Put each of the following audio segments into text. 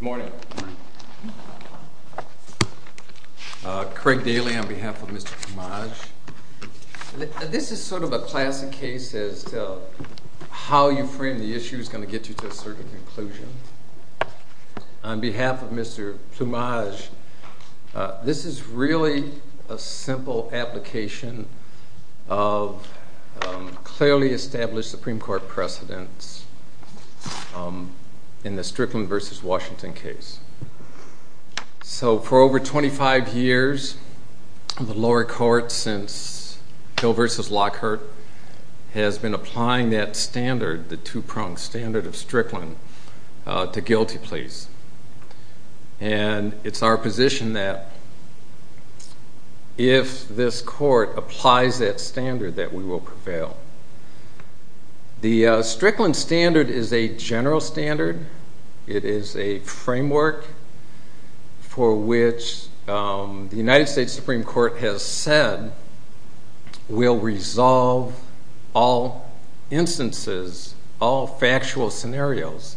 Good morning. Craig Daly on behalf of Mr. Plumaj. This is sort of a classic case as to how you frame the issue is going to get you to a certain conclusion. On behalf of Mr. Plumaj, this is really a simple application of clearly established Supreme Court precedents in the Strickland v. Washington case. So, for over 25 years, the lower court, since Hill v. Lockhart, has been applying that standard, the two-pronged standard of Strickland, to guilty pleas. And it's our position that if this court applies that standard, that we will prevail. The Strickland standard is a general standard. It is a framework for which the United States Supreme Court has said will resolve all instances, all factual scenarios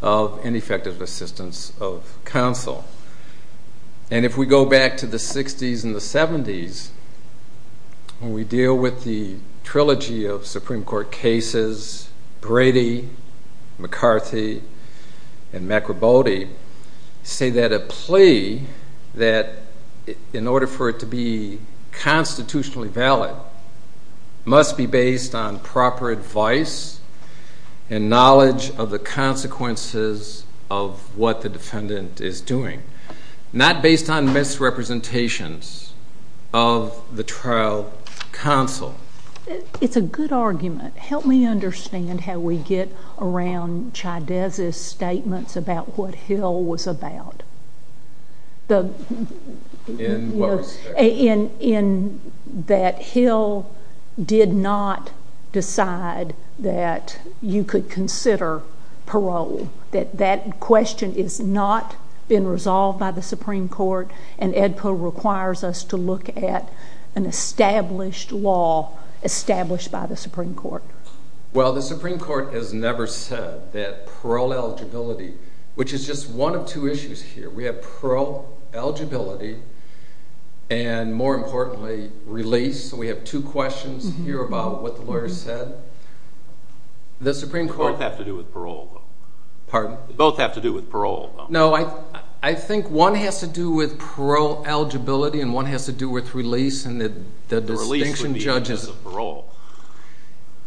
of ineffective assistance of counsel. And if we go back to the 60s and the 70s, when we deal with the trilogy of Supreme Court cases, Brady, McCarthy, and McRibody say that a plea, that in order for it to be constitutionally valid, must be based on proper advice and knowledge of the consequences of what the defendant is doing, not based on misrepresentations of the trial counsel. It's a good argument. Help me understand how we get around Chydez's statements about what Hill was about. In what respect? Well, the Supreme Court has never said that parole eligibility, which is just one of two issues here. We have parole eligibility and, more importantly, release. We have two questions here about what the lawyers said. Both have to do with parole. Pardon? Both have to do with parole. No, I think one has to do with parole eligibility and one has to do with release. Release would be just a parole.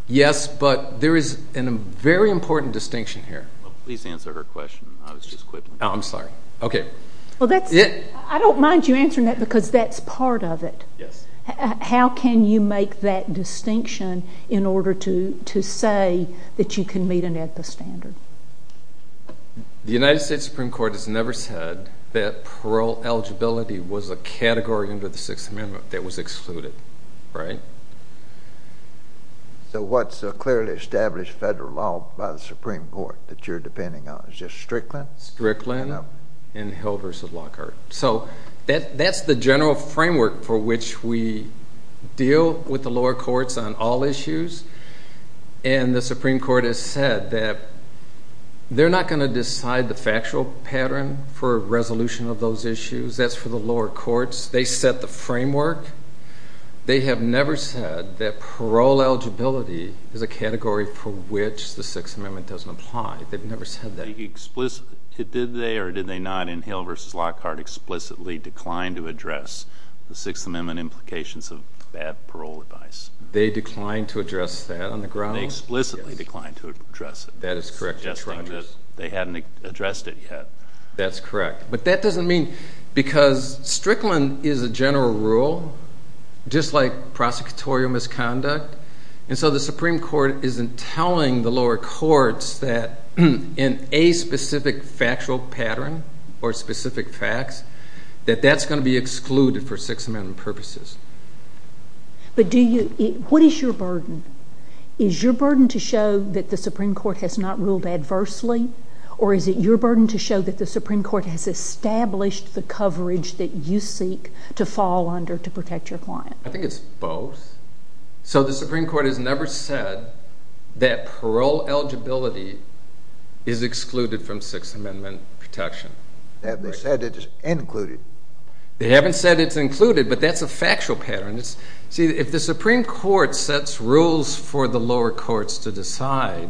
Yes, but there is a very important distinction here. Please answer her question. I was just quipping. I'm sorry. Okay. I don't mind you answering that because that's part of it. Yes. How can you make that distinction in order to say that you can meet an AEDPA standard? The United States Supreme Court has never said that parole eligibility was a category under the Sixth Amendment that was excluded. Right? So what's a clearly established federal law by the Supreme Court that you're depending on? Is it Strickland? Strickland and Hill v. Lockhart. That's the general framework for which we deal with the lower courts on all issues. And the Supreme Court has said that they're not going to decide the factual pattern for resolution of those issues. That's for the lower courts. They set the framework. They have never said that parole eligibility is a category for which the Sixth Amendment doesn't apply. They've never said that. Did they or did they not in Hill v. Lockhart explicitly decline to address the Sixth Amendment implications of bad parole advice? They declined to address that on the grounds? They explicitly declined to address it. That is correct. They hadn't addressed it yet. That's correct. But that doesn't mean because Strickland is a general rule, just like prosecutorial misconduct. And so the Supreme Court isn't telling the lower courts that in a specific factual pattern or specific facts that that's going to be excluded for Sixth Amendment purposes. But do you—what is your burden? Is your burden to show that the Supreme Court has not ruled adversely? Or is it your burden to show that the Supreme Court has established the coverage that you seek to fall under to protect your client? I think it's both. So the Supreme Court has never said that parole eligibility is excluded from Sixth Amendment protection. They haven't said it's included. They haven't said it's included, but that's a factual pattern. See, if the Supreme Court sets rules for the lower courts to decide,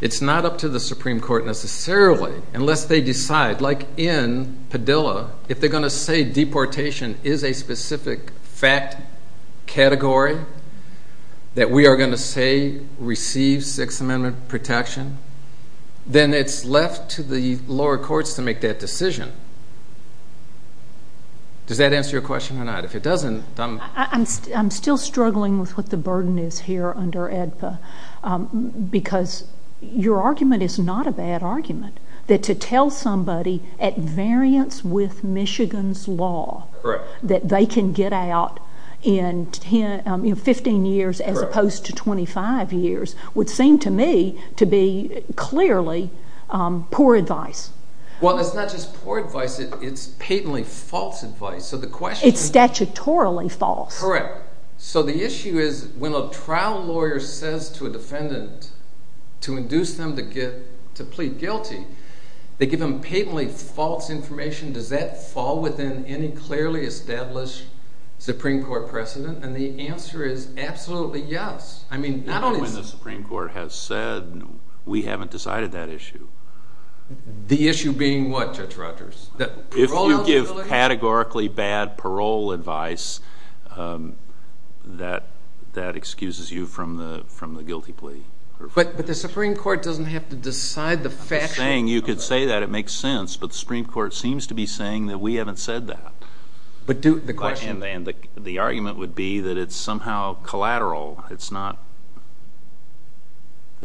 it's not up to the Supreme Court necessarily unless they decide. Like in Padilla, if they're going to say deportation is a specific fact category that we are going to say receives Sixth Amendment protection, then it's left to the lower courts to make that decision. Does that answer your question or not? If it doesn't, I'm— Because your argument is not a bad argument. That to tell somebody at variance with Michigan's law that they can get out in 15 years as opposed to 25 years would seem to me to be clearly poor advice. Well, it's not just poor advice. It's patently false advice. It's statutorily false. Correct. So the issue is when a trial lawyer says to a defendant to induce them to plead guilty, they give them patently false information. Does that fall within any clearly established Supreme Court precedent? And the answer is absolutely yes. I mean, not only— Even when the Supreme Court has said we haven't decided that issue. The issue being what, Judge Rogers? If you give categorically bad parole advice, that excuses you from the guilty plea. But the Supreme Court doesn't have to decide the factual— I'm just saying you could say that. It makes sense. But the Supreme Court seems to be saying that we haven't said that. But do—the question— And the argument would be that it's somehow collateral. It's not—that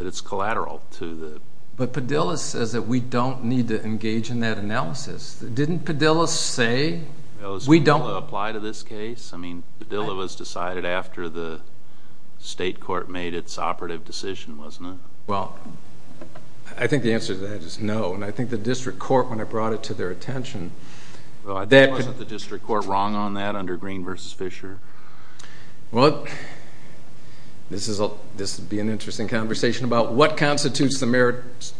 it's collateral to the— But Padilla says that we don't need to engage in that analysis. Didn't Padilla say we don't— Does Padilla apply to this case? I mean, Padilla was decided after the state court made its operative decision, wasn't it? Well, I think the answer to that is no. And I think the district court, when it brought it to their attention— Well, wasn't the district court wrong on that under Green v. Fisher? Well, this would be an interesting conversation about what constitutes the merits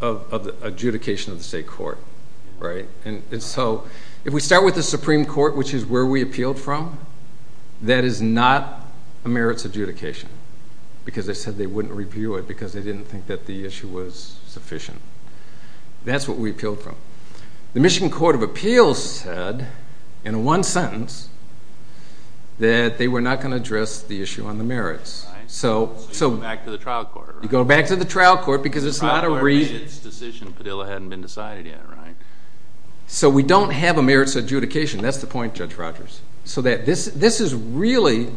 of the adjudication of the state court. And so if we start with the Supreme Court, which is where we appealed from, that is not a merits adjudication because they said they wouldn't review it because they didn't think that the issue was sufficient. That's what we appealed from. The Michigan Court of Appeals said in one sentence that they were not going to address the issue on the merits. So you go back to the trial court, right? You go back to the trial court because it's not a— The trial court made its decision. Padilla hadn't been decided yet, right? So we don't have a merits adjudication. That's the point, Judge Rogers. So this is really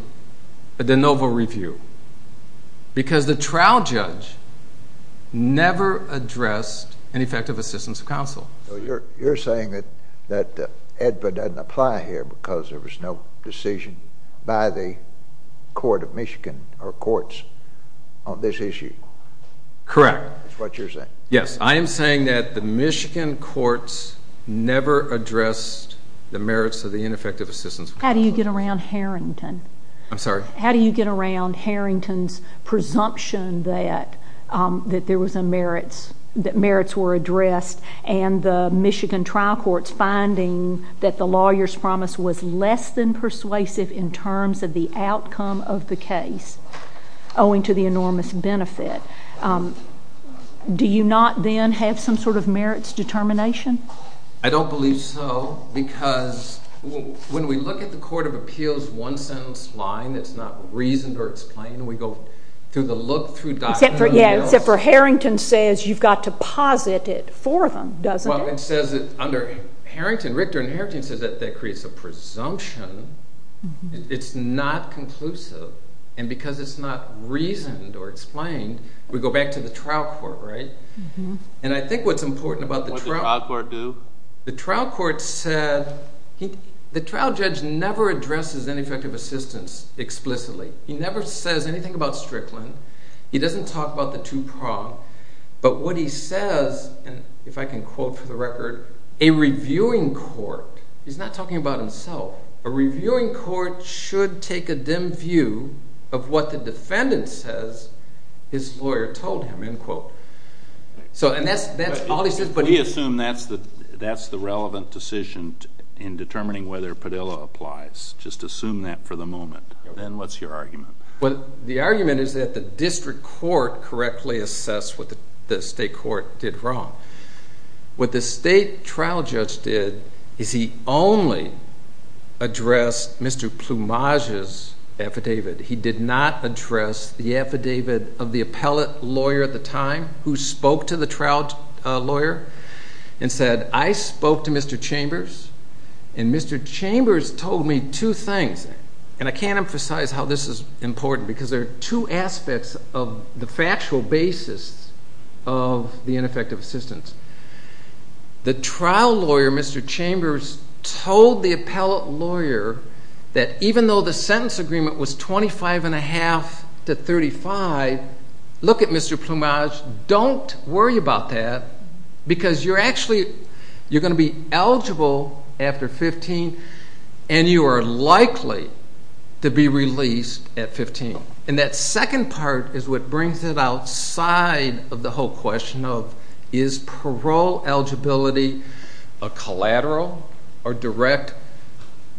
a de novo review because the trial judge never addressed ineffective assistance of counsel. You're saying that EDBA doesn't apply here because there was no decision by the court of Michigan or courts on this issue. Correct. That's what you're saying. Yes, I am saying that the Michigan courts never addressed the merits of the ineffective assistance of counsel. How do you get around Harrington? I'm sorry? How do you get around Harrington's presumption that merits were addressed and the Michigan trial courts finding that the lawyer's promise was less than persuasive in terms of the outcome of the case owing to the enormous benefit? Do you not then have some sort of merits determination? I don't believe so because when we look at the Court of Appeals' one-sentence line that's not reasoned or explained, we go through the look-through documents. Yeah, except for Harrington says you've got to posit it for them, doesn't it? Well, it says that under Harrington, Richter and Harrington says that that creates a presumption. It's not conclusive. And because it's not reasoned or explained, we go back to the trial court, right? And I think what's important about the trial court. What did the trial court do? The trial judge never addresses ineffective assistance explicitly. He never says anything about Strickland. He doesn't talk about the two prong. But what he says, and if I can quote for the record, he's not talking about himself. A reviewing court should take a dim view of what the defendant says his lawyer told him, end quote. We assume that's the relevant decision in determining whether Padilla applies. Just assume that for the moment. Then what's your argument? Well, the argument is that the district court correctly assessed what the state court did wrong. What the state trial judge did is he only addressed Mr. Plumage's affidavit. He did not address the affidavit of the appellate lawyer at the time who spoke to the trial lawyer and said, I spoke to Mr. Chambers, and Mr. Chambers told me two things. And I can't emphasize how this is important because there are two aspects of the factual basis of the ineffective assistance. The trial lawyer, Mr. Chambers, told the appellate lawyer that even though the sentence agreement was 25.5 to 35, look at Mr. Plumage, don't worry about that because you're actually going to be eligible after 15, and you are likely to be released at 15. And that second part is what brings it outside of the whole question of, is parole eligibility a collateral or direct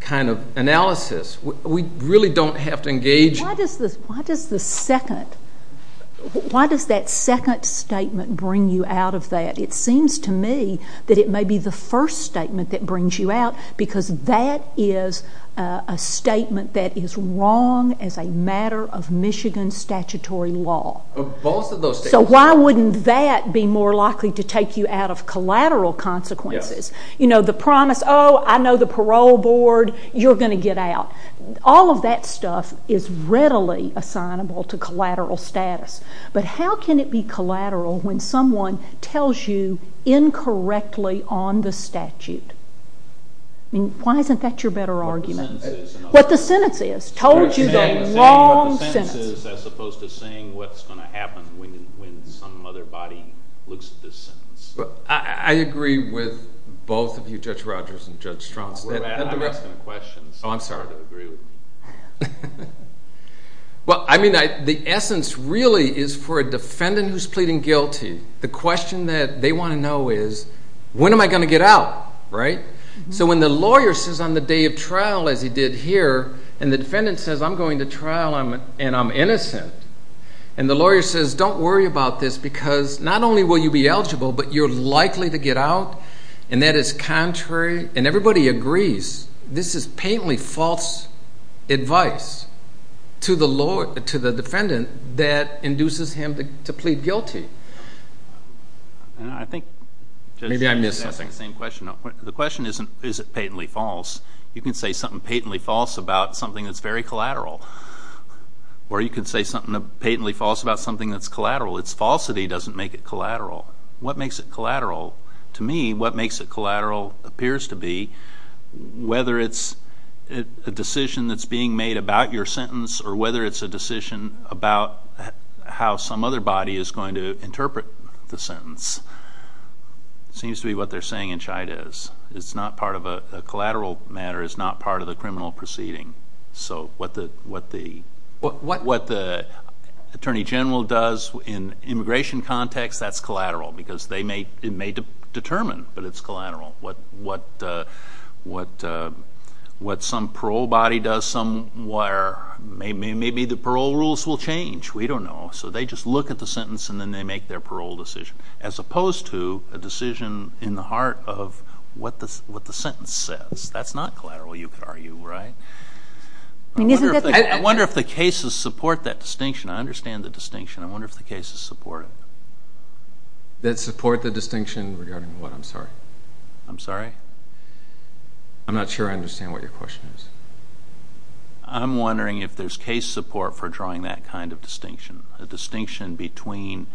kind of analysis? We really don't have to engage. Why does the second, why does that second statement bring you out of that? It seems to me that it may be the first statement that brings you out because that is a statement that is wrong as a matter of Michigan statutory law. So why wouldn't that be more likely to take you out of collateral consequences? You know, the promise, oh, I know the parole board, you're going to get out. All of that stuff is readily assignable to collateral status. But how can it be collateral when someone tells you incorrectly on the statute? I mean, why isn't that your better argument? What the sentence is. What the sentence is. Told you the wrong sentence. What the sentence is as opposed to saying what's going to happen when some other body looks at this sentence. I agree with both of you, Judge Rogers and Judge Strauss. I'm asking a question. Oh, I'm sorry. Well, I mean, the essence really is for a defendant who's pleading guilty, the question that they want to know is when am I going to get out, right? So when the lawyer says on the day of trial, as he did here, and the defendant says I'm going to trial and I'm innocent, and the lawyer says don't worry about this because not only will you be eligible, but you're likely to get out, and that is contrary, and everybody agrees. This is patently false advice to the defendant that induces him to plead guilty. Maybe I missed something. The question isn't is it patently false. You can say something patently false about something that's very collateral, or you can say something patently false about something that's collateral. Its falsity doesn't make it collateral. What makes it collateral? To me, what makes it collateral appears to be whether it's a decision that's being made about your sentence or whether it's a decision about how some other body is going to interpret the sentence. It seems to be what they're saying in Chydes. It's not part of a collateral matter. It's not part of the criminal proceeding. So what the attorney general does in immigration context, that's collateral because it may determine that it's collateral. What some parole body does somewhere, maybe the parole rules will change. We don't know. So they just look at the sentence, and then they make their parole decision as opposed to a decision in the heart of what the sentence says. That's not collateral, you could argue, right? I wonder if the cases support that distinction. I understand the distinction. I wonder if the cases support it. That support the distinction regarding what? I'm sorry. I'm sorry? I'm not sure I understand what your question is. I'm wondering if there's case support for drawing that kind of distinction, a distinction between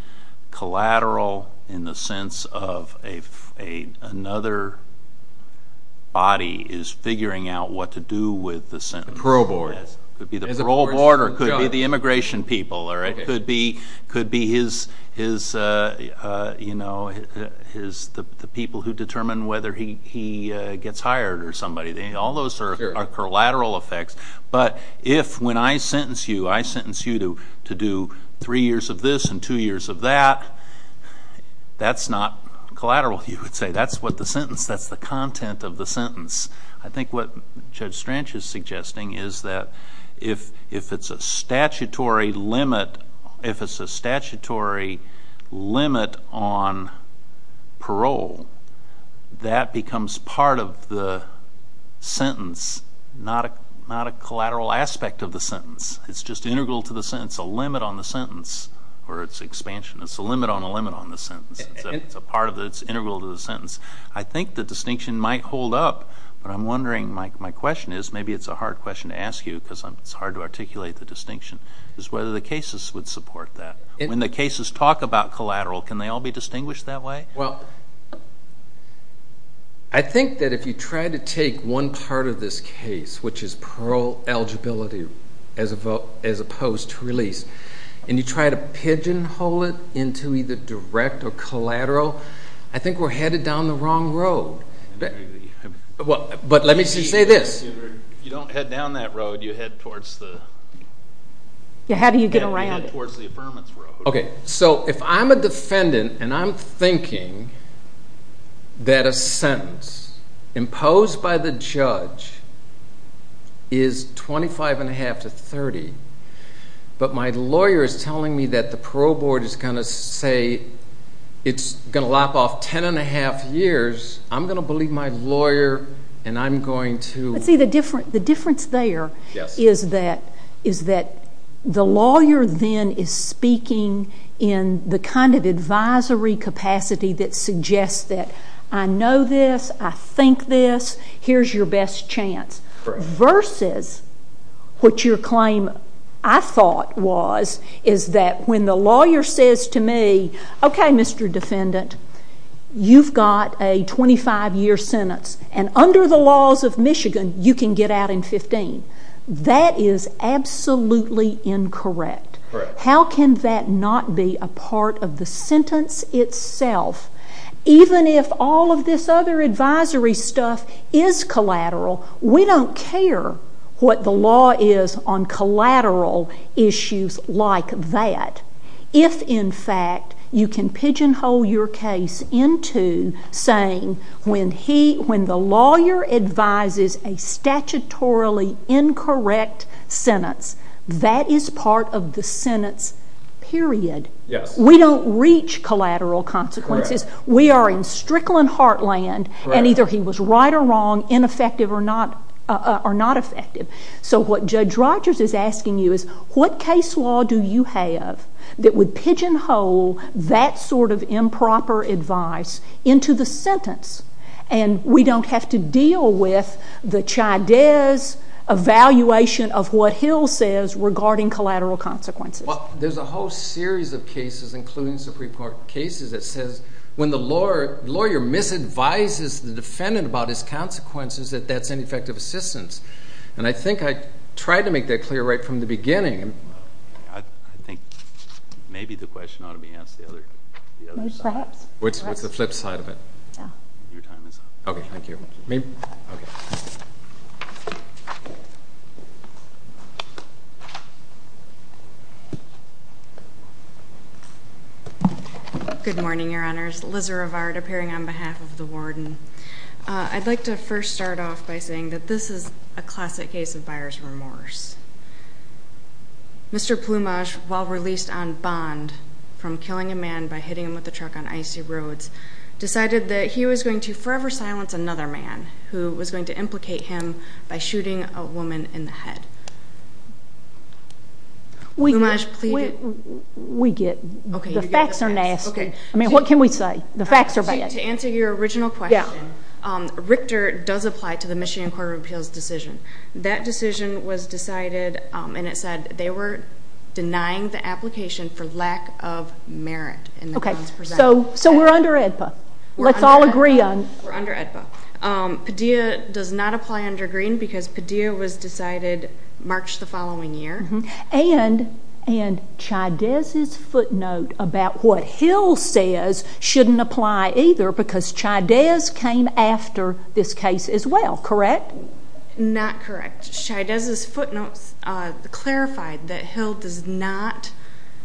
collateral in the sense of another body is figuring out what to do with the sentence. The parole board. It could be the parole board or it could be the immigration people. It could be the people who determine whether he gets hired or somebody. All those are collateral effects. But if when I sentence you, I sentence you to do three years of this and two years of that, that's not collateral, you could say. That's what the sentence, that's the content of the sentence. I think what Judge Strange is suggesting is that if it's a statutory limit on parole, that becomes part of the sentence, not a collateral aspect of the sentence. It's just integral to the sentence, a limit on the sentence or its expansion. It's a limit on a limit on the sentence. It's a part of it. It's integral to the sentence. I think the distinction might hold up, but I'm wondering, my question is, maybe it's a hard question to ask you because it's hard to articulate the distinction, is whether the cases would support that. When the cases talk about collateral, can they all be distinguished that way? Well, I think that if you try to take one part of this case, which is parole eligibility as opposed to release, and you try to pigeonhole it into either direct or collateral, I think we're headed down the wrong road. But let me just say this. You don't head down that road, you head towards the… How do you get around it? You head towards the affirmative road. Okay, so if I'm a defendant and I'm thinking that a sentence imposed by the judge is 25.5 to 30, but my lawyer is telling me that the parole board is going to say it's going to lop off 10.5 years, I'm going to believe my lawyer and I'm going to… See, the difference there is that the lawyer then is speaking in the kind of advisory capacity that suggests that I know this, I think this, here's your best chance, versus what your claim I thought was is that when the lawyer says to me, okay, Mr. Defendant, you've got a 25-year sentence, and under the laws of Michigan you can get out in 15. That is absolutely incorrect. How can that not be a part of the sentence itself? Even if all of this other advisory stuff is collateral, we don't care what the law is on collateral issues like that. If, in fact, you can pigeonhole your case into saying when the lawyer advises a statutorily incorrect sentence, that is part of the sentence, period. We don't reach collateral consequences. We are in Strickland heartland, and either he was right or wrong, ineffective or not effective. So what Judge Rogers is asking you is what case law do you have that would pigeonhole that sort of improper advice into the sentence, and we don't have to deal with the Chydez evaluation of what Hill says regarding collateral consequences. There's a whole series of cases, including Supreme Court cases, that says when the lawyer misadvises the defendant about his consequences, that that's ineffective assistance. And I think I tried to make that clear right from the beginning. I think maybe the question ought to be asked the other side. Maybe perhaps. What's the flip side of it? Your time is up. Okay, thank you. Okay. Good morning, Your Honors. Lizza Rivard appearing on behalf of the warden. I'd like to first start off by saying that this is a classic case of buyer's remorse. Mr. Plumage, while released on bond from killing a man by hitting him with a truck on icy roads, decided that he was going to forever silence another man who was going to implicate him by shooting a woman in the head. We get it. The facts are nasty. I mean, what can we say? The facts are bad. To answer your original question, Richter does apply to the Michigan Court of Appeals decision. That decision was decided, and it said they were denying the application for lack of merit in the guns presented. So we're under AEDPA. Let's all agree on it. We're under AEDPA. Padilla does not apply under Green because Padilla was decided March the following year. And Chydez's footnote about what Hill says shouldn't apply either because Chydez came after this case as well, correct? Not correct. Chydez's footnotes clarified that Hill does not,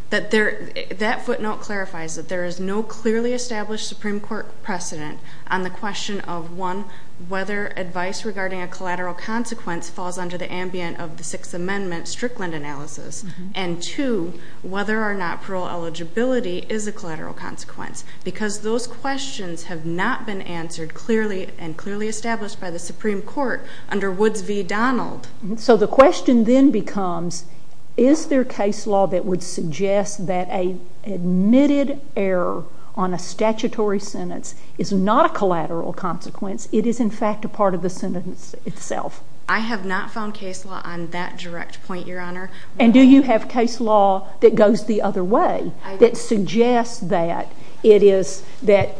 that footnote clarifies that there is no clearly established Supreme Court precedent on the question of, one, whether advice regarding a collateral consequence falls under the ambient of the Sixth Amendment Strickland analysis, and, two, whether or not parole eligibility is a collateral consequence because those questions have not been answered clearly and clearly established by the Supreme Court under Woods v. Donald. So the question then becomes, is there case law that would suggest that a admitted error on a statutory sentence is not a collateral consequence? It is, in fact, a part of the sentence itself. I have not found case law on that direct point, Your Honor. And do you have case law that goes the other way, that suggests that it is, that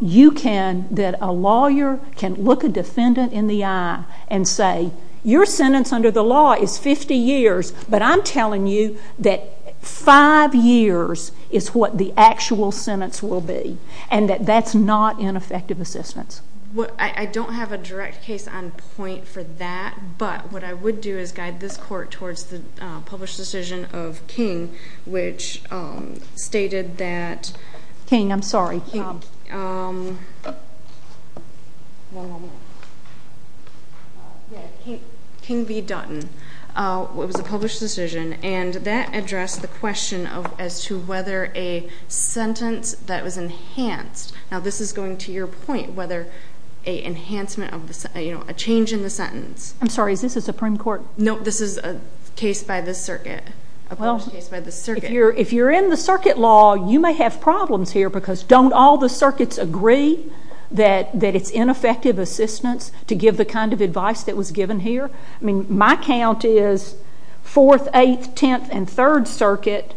you can, that a lawyer can look a defendant in the eye and say, your sentence under the law is 50 years, but I'm telling you that 5 years is what the actual sentence will be, and that that's not ineffective assistance. I don't have a direct case on point for that, but what I would do is guide this court towards the published decision of King, which stated that... King, I'm sorry. King v. Dutton. It was a published decision, and that addressed the question as to whether a sentence that was enhanced, now this is going to your point, whether a enhancement of, you know, a change in the sentence. I'm sorry, is this a Supreme Court? No, this is a case by the circuit, a published case by the circuit. If you're in the circuit law, you may have problems here, because don't all the circuits agree that it's ineffective assistance to give the kind of advice that was given here? I mean, my count is 4th, 8th, 10th, and 3rd Circuit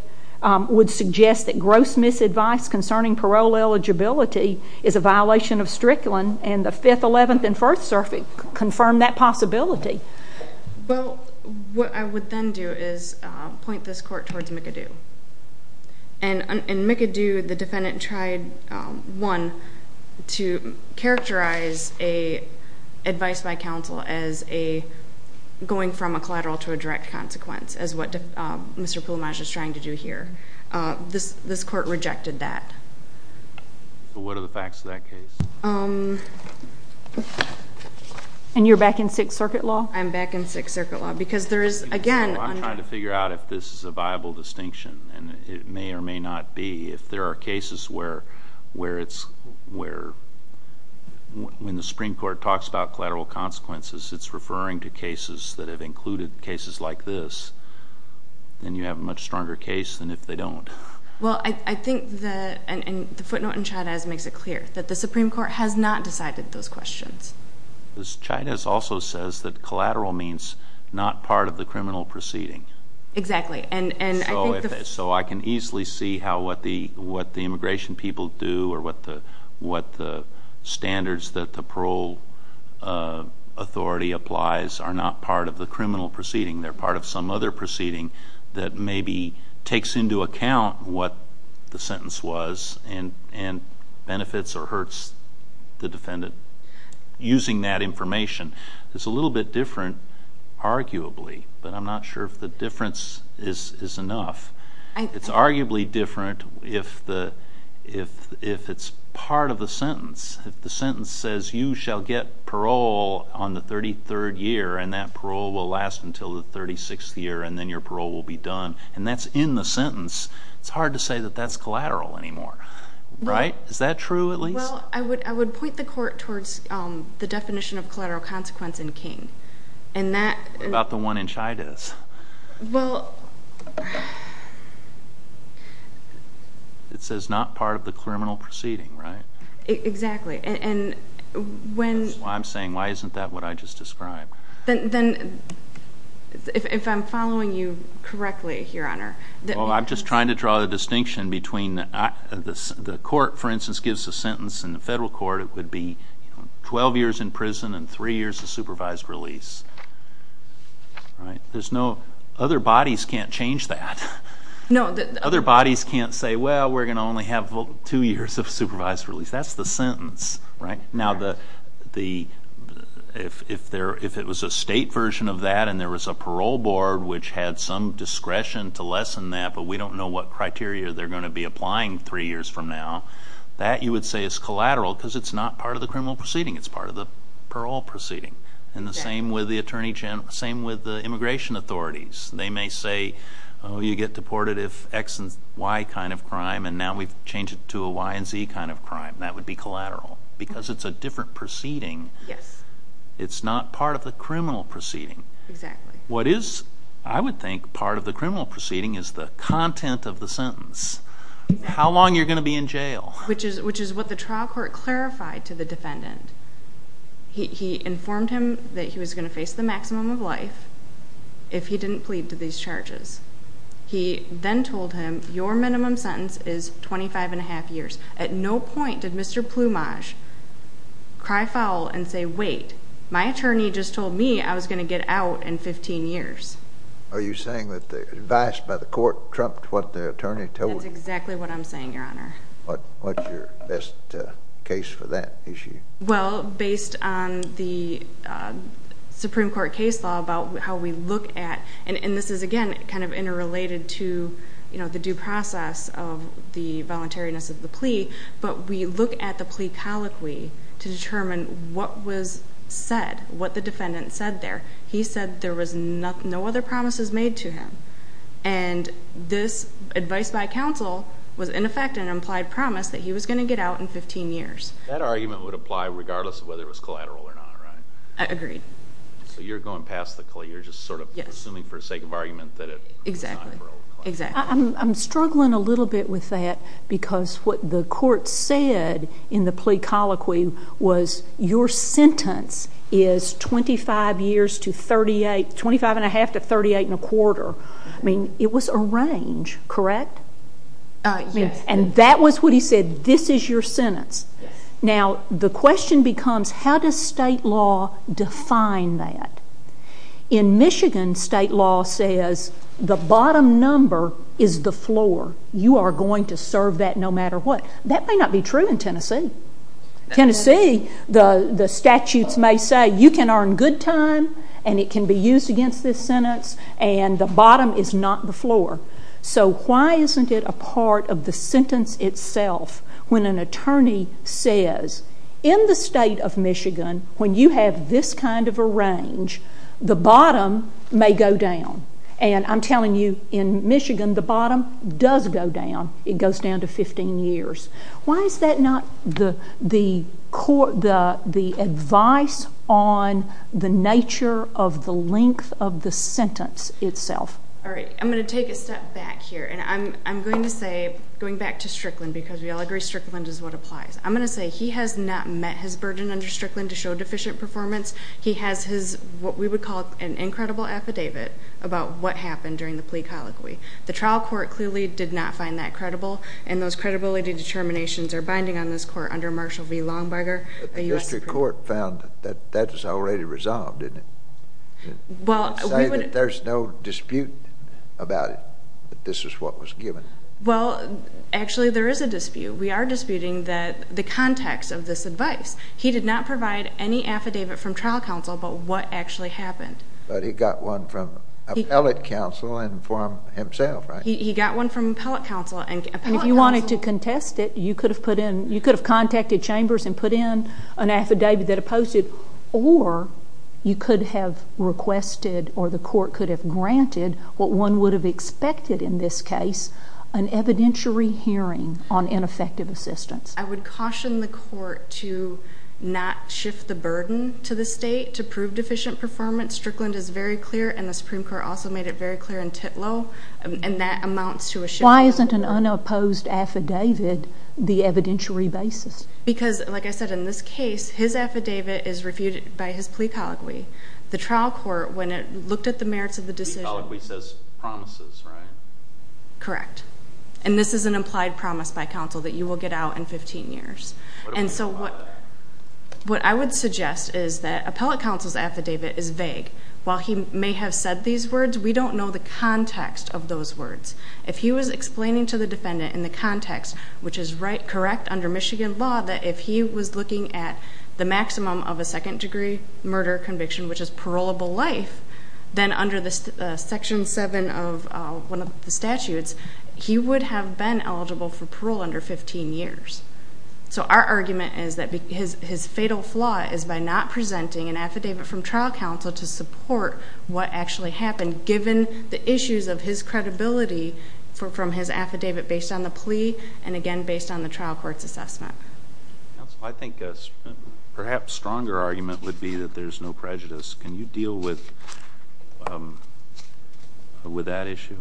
would suggest that gross misadvice concerning parole eligibility is a violation of strictly, and the 5th, 11th, and 1st Circuit confirmed that possibility. Well, what I would then do is point this court towards McAdoo. And in McAdoo, the defendant tried, one, to characterize advice by counsel as going from a collateral to a direct consequence, as what Mr. Pulumag is trying to do here. This court rejected that. What are the facts of that case? And you're back in 6th Circuit law? I'm back in 6th Circuit law, because there is, again... I'm trying to figure out if this is a viable distinction, and it may or may not be. If there are cases where, when the Supreme Court talks about collateral consequences, it's referring to cases that have included cases like this, then you have a much stronger case than if they don't. Well, I think the footnote in Chavez makes it clear that the Supreme Court has not decided those questions. Chavez also says that collateral means not part of the criminal proceeding. Exactly. So I can easily see what the immigration people do, or what the standards that the parole authority applies are not part of the criminal proceeding. They're part of some other proceeding that maybe takes into account what the sentence was, and benefits or hurts the defendant using that information. It's a little bit different, arguably, but I'm not sure if the difference is enough. It's arguably different if it's part of the sentence. If the sentence says, you shall get parole on the 33rd year, and that parole will last until the 36th year, and then your parole will be done, and that's in the sentence, it's hard to say that that's collateral anymore. Right? Is that true, at least? Well, I would point the court towards the definition of collateral consequence in King. What about the one in Chavez? It says not part of the criminal proceeding, right? Exactly. That's why I'm saying, why isn't that what I just described? If I'm following you correctly, Your Honor. Well, I'm just trying to draw the distinction between the court, for instance, gives a sentence in the federal court, it would be 12 years in prison and 3 years of supervised release. Other bodies can't change that. Other bodies can't say, well, we're going to only have 2 years of supervised release. That's the sentence, right? Now, if it was a state version of that, and there was a parole board which had some discretion to lessen that, but we don't know what criteria they're going to be applying 3 years from now, that you would say is collateral because it's not part of the criminal proceeding. It's part of the parole proceeding. And the same with the immigration authorities. They may say, oh, you get deported if X and Y kind of crime, and now we've changed it to a Y and Z kind of crime. That would be collateral because it's a different proceeding. It's not part of the criminal proceeding. Exactly. What is, I would think, part of the criminal proceeding is the content of the sentence. How long you're going to be in jail. Which is what the trial court clarified to the defendant. He informed him that he was going to face the maximum of life if he didn't plead to these charges. He then told him, your minimum sentence is 25 1⁄2 years. At no point did Mr. Plumage cry foul and say, wait, my attorney just told me I was going to get out in 15 years. Are you saying that the advice by the court trumped what the attorney told you? That's exactly what I'm saying, Your Honor. What's your best case for that issue? Well, based on the Supreme Court case law about how we look at, and this is, again, kind of interrelated to the due process of the voluntariness of the plea, but we look at the plea colloquy to determine what was said, what the defendant said there. He said there was no other promises made to him. And this advice by counsel was, in effect, an implied promise that he was going to get out in 15 years. That argument would apply regardless of whether it was collateral or not, right? I agree. So you're going past the collateral, you're just sort of assuming for the sake of argument that it was not collateral. Exactly. I'm struggling a little bit with that because what the court said in the plea colloquy was, your sentence is 25 years to 38, 25 and a half to 38 and a quarter. I mean, it was a range, correct? Yes. And that was what he said, this is your sentence. Now, the question becomes, how does state law define that? In Michigan, state law says the bottom number is the floor. You are going to serve that no matter what. That may not be true in Tennessee. Tennessee, the statutes may say you can earn good time and it can be used against this sentence, and the bottom is not the floor. So why isn't it a part of the sentence itself when an attorney says, in the state of Michigan, when you have this kind of a range, the bottom may go down. And I'm telling you, in Michigan, the bottom does go down. It goes down to 15 years. Why is that not the advice on the nature of the length of the sentence itself? All right. I'm going to take a step back here, and I'm going to say, going back to Strickland, because we all agree Strickland is what applies. I'm going to say he has not met his burden under Strickland to show deficient performance. He has his, what we would call an incredible affidavit about what happened during the plea colloquy. The trial court clearly did not find that credible, and those credibility determinations are binding on this court under Marshall v. Longberger. But the district court found that that was already resolved, didn't it? Say that there's no dispute about it, that this is what was given. Well, actually, there is a dispute. We are disputing the context of this advice. He did not provide any affidavit from trial counsel about what actually happened. But he got one from appellate counsel and for himself, right? He got one from appellate counsel. And if you wanted to contest it, you could have put in, you could have contacted chambers and put in an affidavit that opposed it, or you could have requested or the court could have granted what one would have expected in this case, an evidentiary hearing on ineffective assistance. I would caution the court to not shift the burden to the state to prove deficient performance. Strickland is very clear, and the Supreme Court also made it very clear in Titlow, and that amounts to a shift. Why isn't an unopposed affidavit the evidentiary basis? Because, like I said, in this case, his affidavit is refuted by his plea colloquy. The trial court, when it looked at the merits of the decision— The plea colloquy says promises, right? Correct. And this is an implied promise by counsel that you will get out in 15 years. And so what I would suggest is that appellate counsel's affidavit is vague. While he may have said these words, we don't know the context of those words. If he was explaining to the defendant in the context, which is correct under Michigan law, that if he was looking at the maximum of a second-degree murder conviction, which is parolable life, then under Section 7 of one of the statutes, he would have been eligible for parole under 15 years. So our argument is that his fatal flaw is by not presenting an affidavit from trial counsel to support what actually happened, given the issues of his credibility from his affidavit based on the plea and, again, based on the trial court's assessment. Counsel, I think a perhaps stronger argument would be that there's no prejudice. Can you deal with that issue?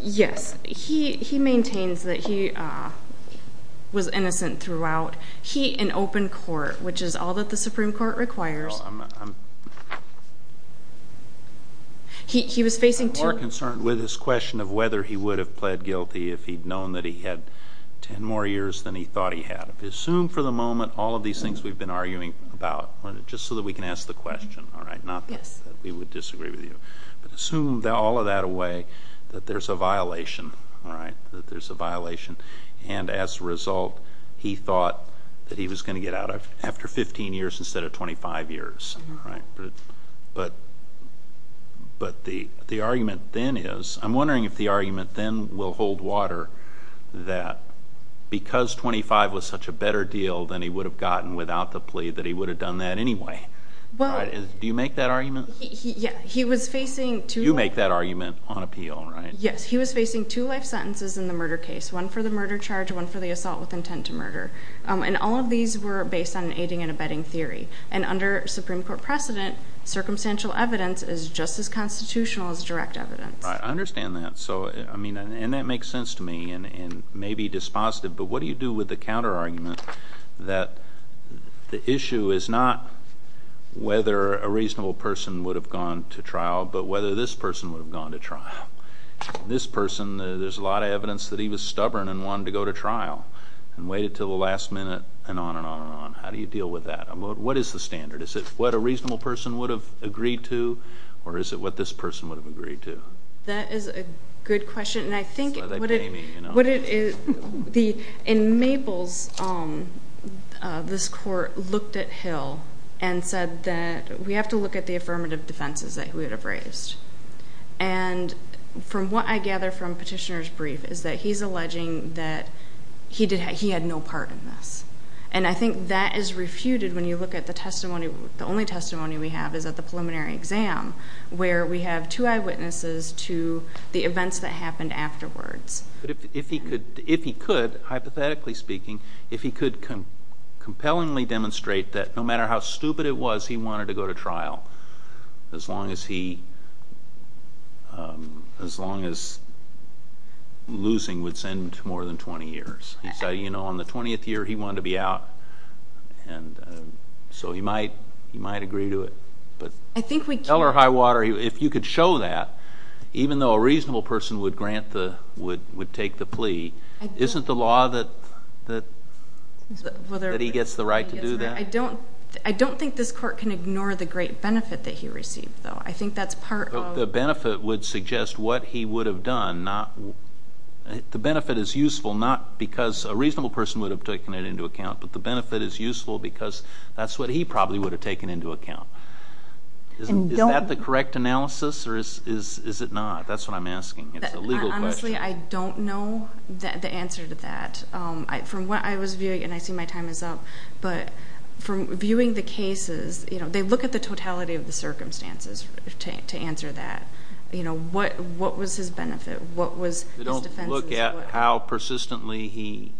Yes. He maintains that he was innocent throughout. He, in open court, which is all that the Supreme Court requires, he was facing two- I'm more concerned with his question of whether he would have pled guilty if he'd known that he had 10 more years than he thought he had. Assume for the moment all of these things we've been arguing about, just so that we can ask the question, not that we would disagree with you, but assume all of that away, that there's a violation, that there's a violation, and as a result, he thought that he was going to get out after 15 years instead of 25 years. But the argument then is, I'm wondering if the argument then will hold water, that because 25 was such a better deal than he would have gotten without the plea, that he would have done that anyway. Do you make that argument? Yes. He was facing two- You make that argument on appeal, right? Yes. He was facing two life sentences in the murder case, one for the murder charge, one for the assault with intent to murder. And all of these were based on an aiding and abetting theory. And under Supreme Court precedent, circumstantial evidence is just as constitutional as direct evidence. I understand that. And that makes sense to me, and may be dispositive, but what do you do with the counterargument that the issue is not whether a reasonable person would have gone to trial, but whether this person would have gone to trial? This person, there's a lot of evidence that he was stubborn and wanted to go to trial, and waited until the last minute, and on and on and on. How do you deal with that? What is the standard? Is it what a reasonable person would have agreed to, or is it what this person would have agreed to? That is a good question, and I think- That's why they pay me, you know? In Maples, this court looked at Hill and said that we have to look at the affirmative defenses that he would have raised. And from what I gather from Petitioner's brief is that he's alleging that he had no part in this. And I think that is refuted when you look at the testimony. The only testimony we have is at the preliminary exam, where we have two eyewitnesses to the events that happened afterwards. If he could, hypothetically speaking, if he could compellingly demonstrate that no matter how stupid it was, he wanted to go to trial, as long as losing would send him to more than 20 years. He said, you know, in the 20th year, he wanted to be out, and so he might agree to it. I think we can't- Tell her, Highwater, if you could show that, even though a reasonable person would take the plea, isn't the law that he gets the right to do that? I don't think this court can ignore the great benefit that he received, though. I think that's part of- I think the benefit would suggest what he would have done, not-the benefit is useful not because a reasonable person would have taken it into account, but the benefit is useful because that's what he probably would have taken into account. Is that the correct analysis, or is it not? That's what I'm asking. It's a legal question. Honestly, I don't know the answer to that. From what I was viewing, and I see my time is up, but from viewing the cases, you know, I look at the totality of the circumstances to answer that. You know, what was his benefit? What was his defense? You don't look at how persistently he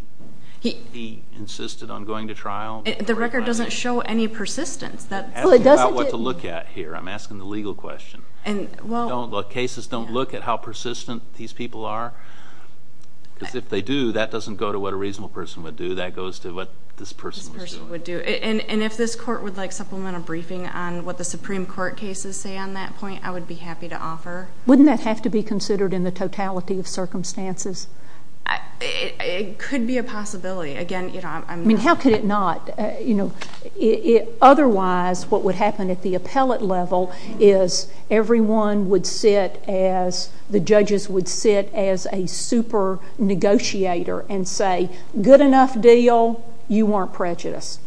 insisted on going to trial? The record doesn't show any persistence. Ask him about what to look at here. I'm asking the legal question. Cases don't look at how persistent these people are? Because if they do, that doesn't go to what a reasonable person would do. That goes to what this person was doing. And if this court would like supplemental briefing on what the Supreme Court cases say on that point, I would be happy to offer. Wouldn't that have to be considered in the totality of circumstances? It could be a possibility. Again, you know, I'm not. I mean, how could it not? Otherwise, what would happen at the appellate level is everyone would sit as, the judges would sit as a super negotiator and say, good enough deal, you weren't prejudiced.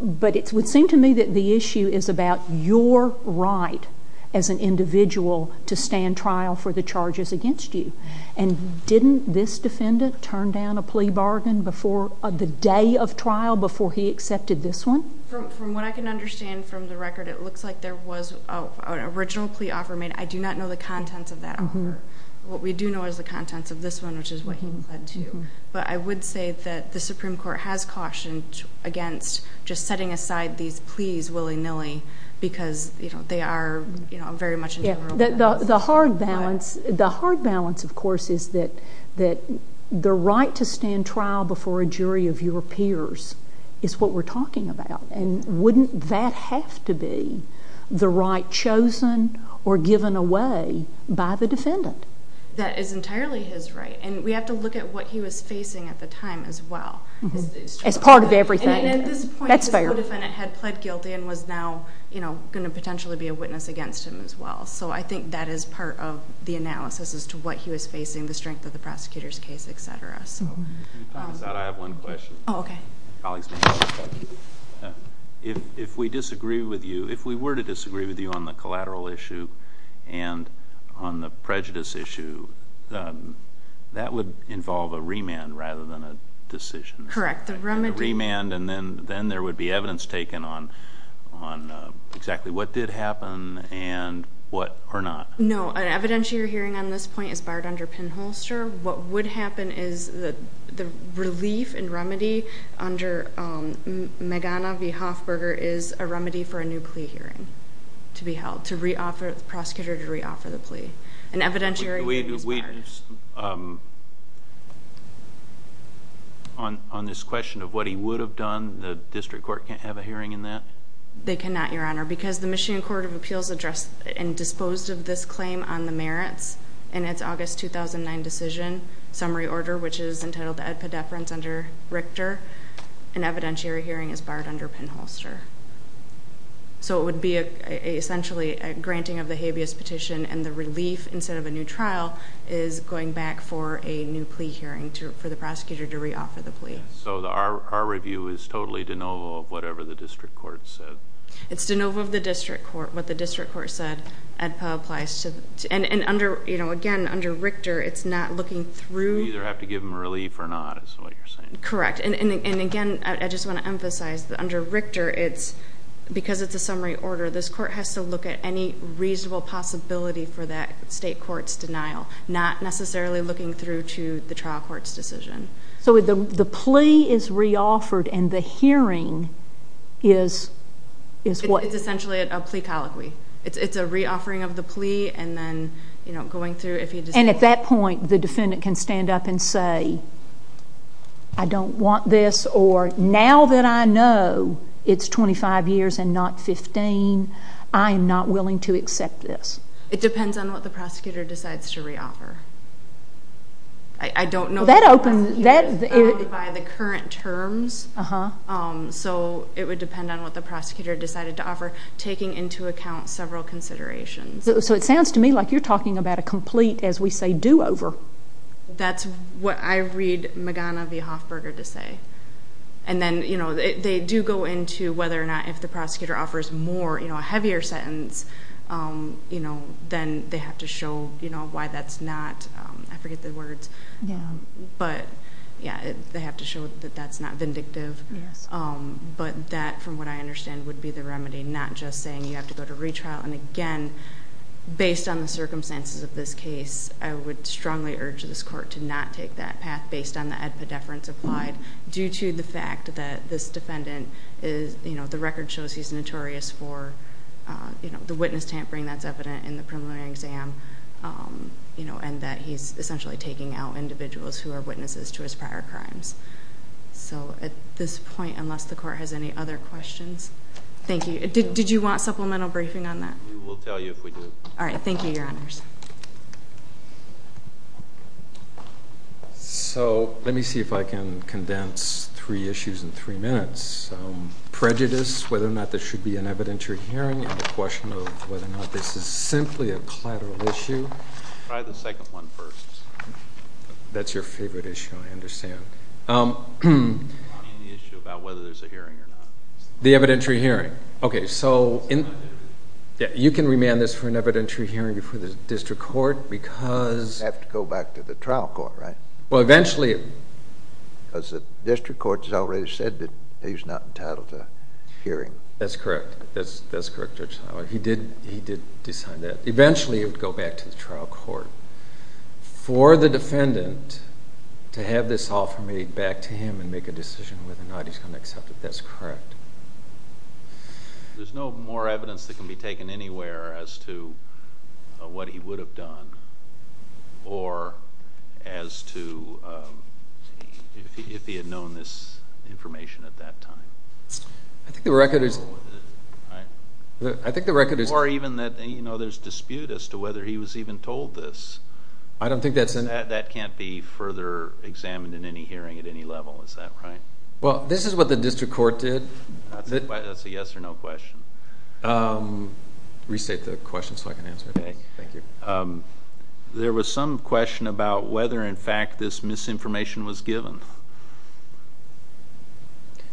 But it would seem to me that the issue is about your right as an individual to stand trial for the charges against you. And didn't this defendant turn down a plea bargain the day of trial before he accepted this one? From what I can understand from the record, it looks like there was an original plea offer made. I do not know the contents of that offer. What we do know is the contents of this one, which is what he pled to. But I would say that the Supreme Court has cautioned against just setting aside these pleas willy-nilly because they are very much in general. The hard balance, of course, is that the right to stand trial before a jury of your peers is what we're talking about. And wouldn't that have to be the right chosen or given away by the defendant? That is entirely his right. And we have to look at what he was facing at the time as well. As part of everything. And at this point, this co-defendant had pled guilty and was now going to potentially be a witness against him as well. So I think that is part of the analysis as to what he was facing, the strength of the prosecutor's case, et cetera. I have one question. Oh, okay. Colleagues, if we disagree with you, if we were to disagree with you on the collateral issue and on the prejudice issue, that would involve a remand rather than a decision. Correct. A remand and then there would be evidence taken on exactly what did happen and what or not. No, the evidence you're hearing on this point is barred under pinholster. What would happen is the relief and remedy under Magana v. Hoffberger is a remedy for a new plea hearing to be held, to re-offer the prosecutor to re-offer the plea. And evidentiary hearing is barred. On this question of what he would have done, the district court can't have a hearing in that? They cannot, Your Honor, because the Michigan Court of Appeals addressed and disposed of this claim on the merits in its August 2009 decision summary order, which is entitled the EDPA deference under Richter, and evidentiary hearing is barred under pinholster. So it would be essentially a granting of the habeas petition, and the relief instead of a new trial is going back for a new plea hearing for the prosecutor to re-offer the plea. So our review is totally de novo of whatever the district court said? It's de novo of the district court. And, again, under Richter, it's not looking through? You either have to give them relief or not is what you're saying. Correct. And, again, I just want to emphasize that under Richter, because it's a summary order, this court has to look at any reasonable possibility for that state court's denial, not necessarily looking through to the trial court's decision. So the plea is re-offered and the hearing is what? It's essentially a plea colloquy. It's a re-offering of the plea and then, you know, going through. And at that point, the defendant can stand up and say, I don't want this, or now that I know it's 25 years and not 15, I am not willing to accept this. It depends on what the prosecutor decides to re-offer. I don't know. By the current terms. So it would depend on what the prosecutor decided to offer, taking into account several considerations. So it sounds to me like you're talking about a complete, as we say, do-over. That's what I read Magana v. Hoffberger to say. And then, you know, they do go into whether or not if the prosecutor offers more, you know, a heavier sentence, you know, then they have to show, you know, why that's not. I forget the words. Yeah. But, yeah, they have to show that that's not vindictive. Yes. But that, from what I understand, would be the remedy, not just saying you have to go to retrial. And, again, based on the circumstances of this case, I would strongly urge this court to not take that path based on the edpa deference applied due to the fact that this defendant is, you know, the record shows he's notorious for, you know, the witness tampering that's evident in the preliminary exam, you know, and that he's essentially taking out individuals who are witnesses to his prior crimes. So at this point, unless the court has any other questions. Thank you. Did you want supplemental briefing on that? We will tell you if we do. All right. Thank you, Your Honors. So let me see if I can condense three issues in three minutes. Prejudice, whether or not this should be an evidentiary hearing, and the question of whether or not this is simply a collateral issue. Try the second one first. That's your favorite issue. I understand. Any issue about whether there's a hearing or not. The evidentiary hearing. Okay, so you can remand this for an evidentiary hearing before the district court because... It would have to go back to the trial court, right? Well, eventually... Because the district court has already said that he's not entitled to a hearing. That's correct. That's correct, Judge Seiler. He did decide that. Eventually, it would go back to the trial court. For the defendant to have this offer made back to him and make a decision whether or not he's going to accept it, that's correct. There's no more evidence that can be taken anywhere as to what he would have done or as to if he had known this information at that time. I think the record is... Or even that there's dispute as to whether he was even told this. I don't think that's... That can't be further examined in any hearing at any level, is that right? Well, this is what the district court did. That's a yes or no question. Restate the question so I can answer it. Okay, thank you. There was some question about whether in fact this misinformation was given.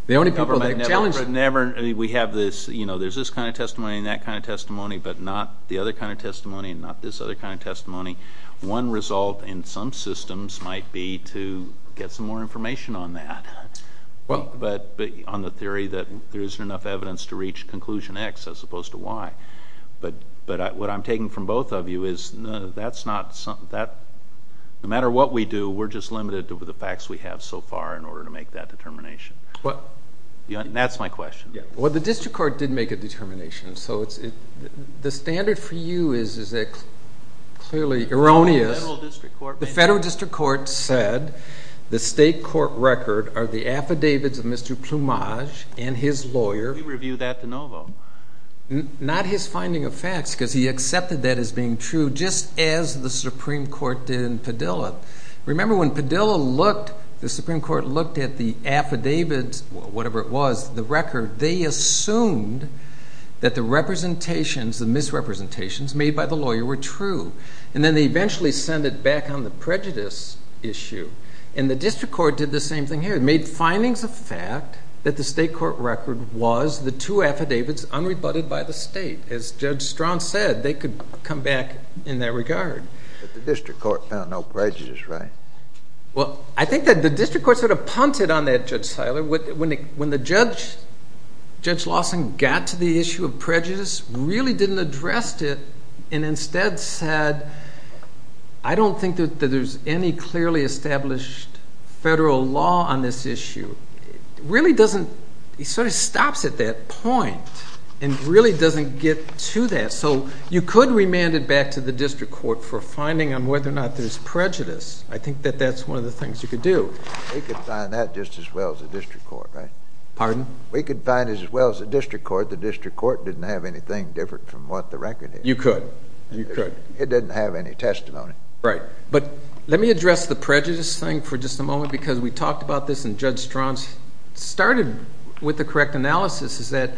The only people that challenged... There's this kind of testimony and that kind of testimony, but not the other kind of testimony and not this other kind of testimony. One result in some systems might be to get some more information on that, on the theory that there isn't enough evidence to reach conclusion X as opposed to Y. But what I'm taking from both of you is that no matter what we do, we're just limited to the facts we have so far in order to make that determination. That's my question. Well, the district court did make a determination. So the standard for you is clearly erroneous. The federal district court... The federal district court said the state court record are the affidavits of Mr. Plumage and his lawyer. We review that to no vote. Not his finding of facts because he accepted that as being true just as the Supreme Court did in Padilla. Remember when Padilla looked, the Supreme Court looked at the affidavits, whatever it was, the record, they assumed that the representations, the misrepresentations made by the lawyer were true. And then they eventually sent it back on the prejudice issue. And the district court did the same thing here. It made findings of fact that the state court record was the two affidavits unrebutted by the state. As Judge Strawn said, they could come back in that regard. But the district court found no prejudice, right? Well, I think that the district court sort of punted on that, Judge Seiler. When the judge, Judge Lawson, got to the issue of prejudice, really didn't address it and instead said, I don't think that there's any clearly established federal law on this issue. It really doesn't... he sort of stops at that point and really doesn't get to that. So you could remand it back to the district court for finding on whether or not there's prejudice. I think that that's one of the things you could do. We could find that just as well as the district court, right? Pardon? We could find it as well as the district court. The district court didn't have anything different from what the record is. You could. You could. It didn't have any testimony. Right. But let me address the prejudice thing for just a moment because we talked about this and Judge Strauss started with the correct analysis is that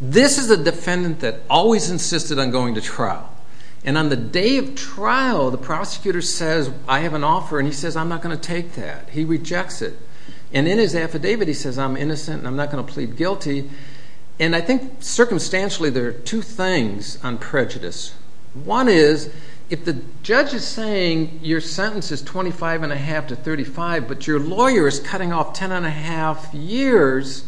this is a defendant that always insisted on going to trial. And on the day of trial, the prosecutor says, I have an offer, and he says, I'm not going to take that. He rejects it. And in his affidavit he says, I'm innocent and I'm not going to plead guilty. And I think circumstantially there are two things on prejudice. One is if the judge is saying your sentence is 25 and a half to 35, but your lawyer is cutting off 10 and a half years,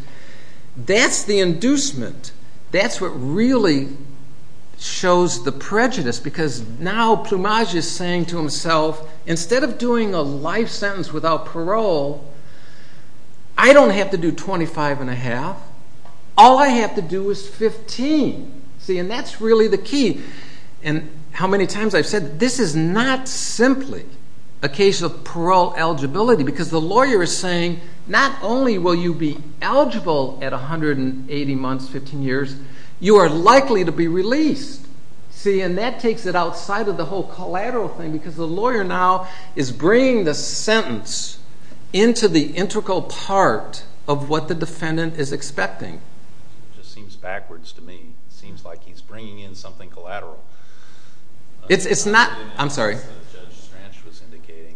that's the inducement. That's what really shows the prejudice because now Plumage is saying to himself, instead of doing a life sentence without parole, I don't have to do 25 and a half. All I have to do is 15. And that's really the key. And how many times I've said this is not simply a case of parole eligibility because the lawyer is saying not only will you be eligible at 180 months, 15 years, you are likely to be released. And that takes it outside of the whole collateral thing because the lawyer now is bringing the sentence into the integral part of what the defendant is expecting. It just seems backwards to me. It seems like he's bringing in something collateral. It's not. I'm sorry.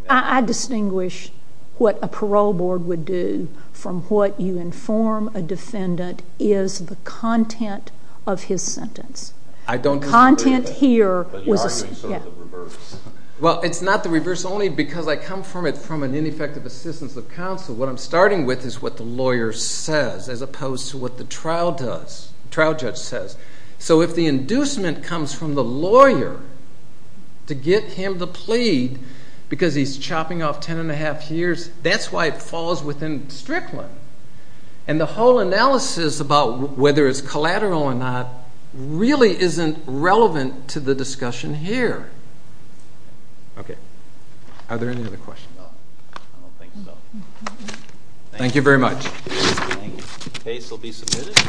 I distinguish what a parole board would do from what you inform a defendant is the content of his sentence. I don't disagree. The content here. But you're arguing sort of the reverse. Well, it's not the reverse only because I come from it from an ineffective assistance of counsel. What I'm starting with is what the lawyer says as opposed to what the trial judge says. So if the inducement comes from the lawyer to get him to plead because he's chopping off 10 and a half years, that's why it falls within Strickland. And the whole analysis about whether it's collateral or not really isn't relevant to the discussion here. Okay. Are there any other questions? No. I don't think so. Thank you very much. Case will be submitted.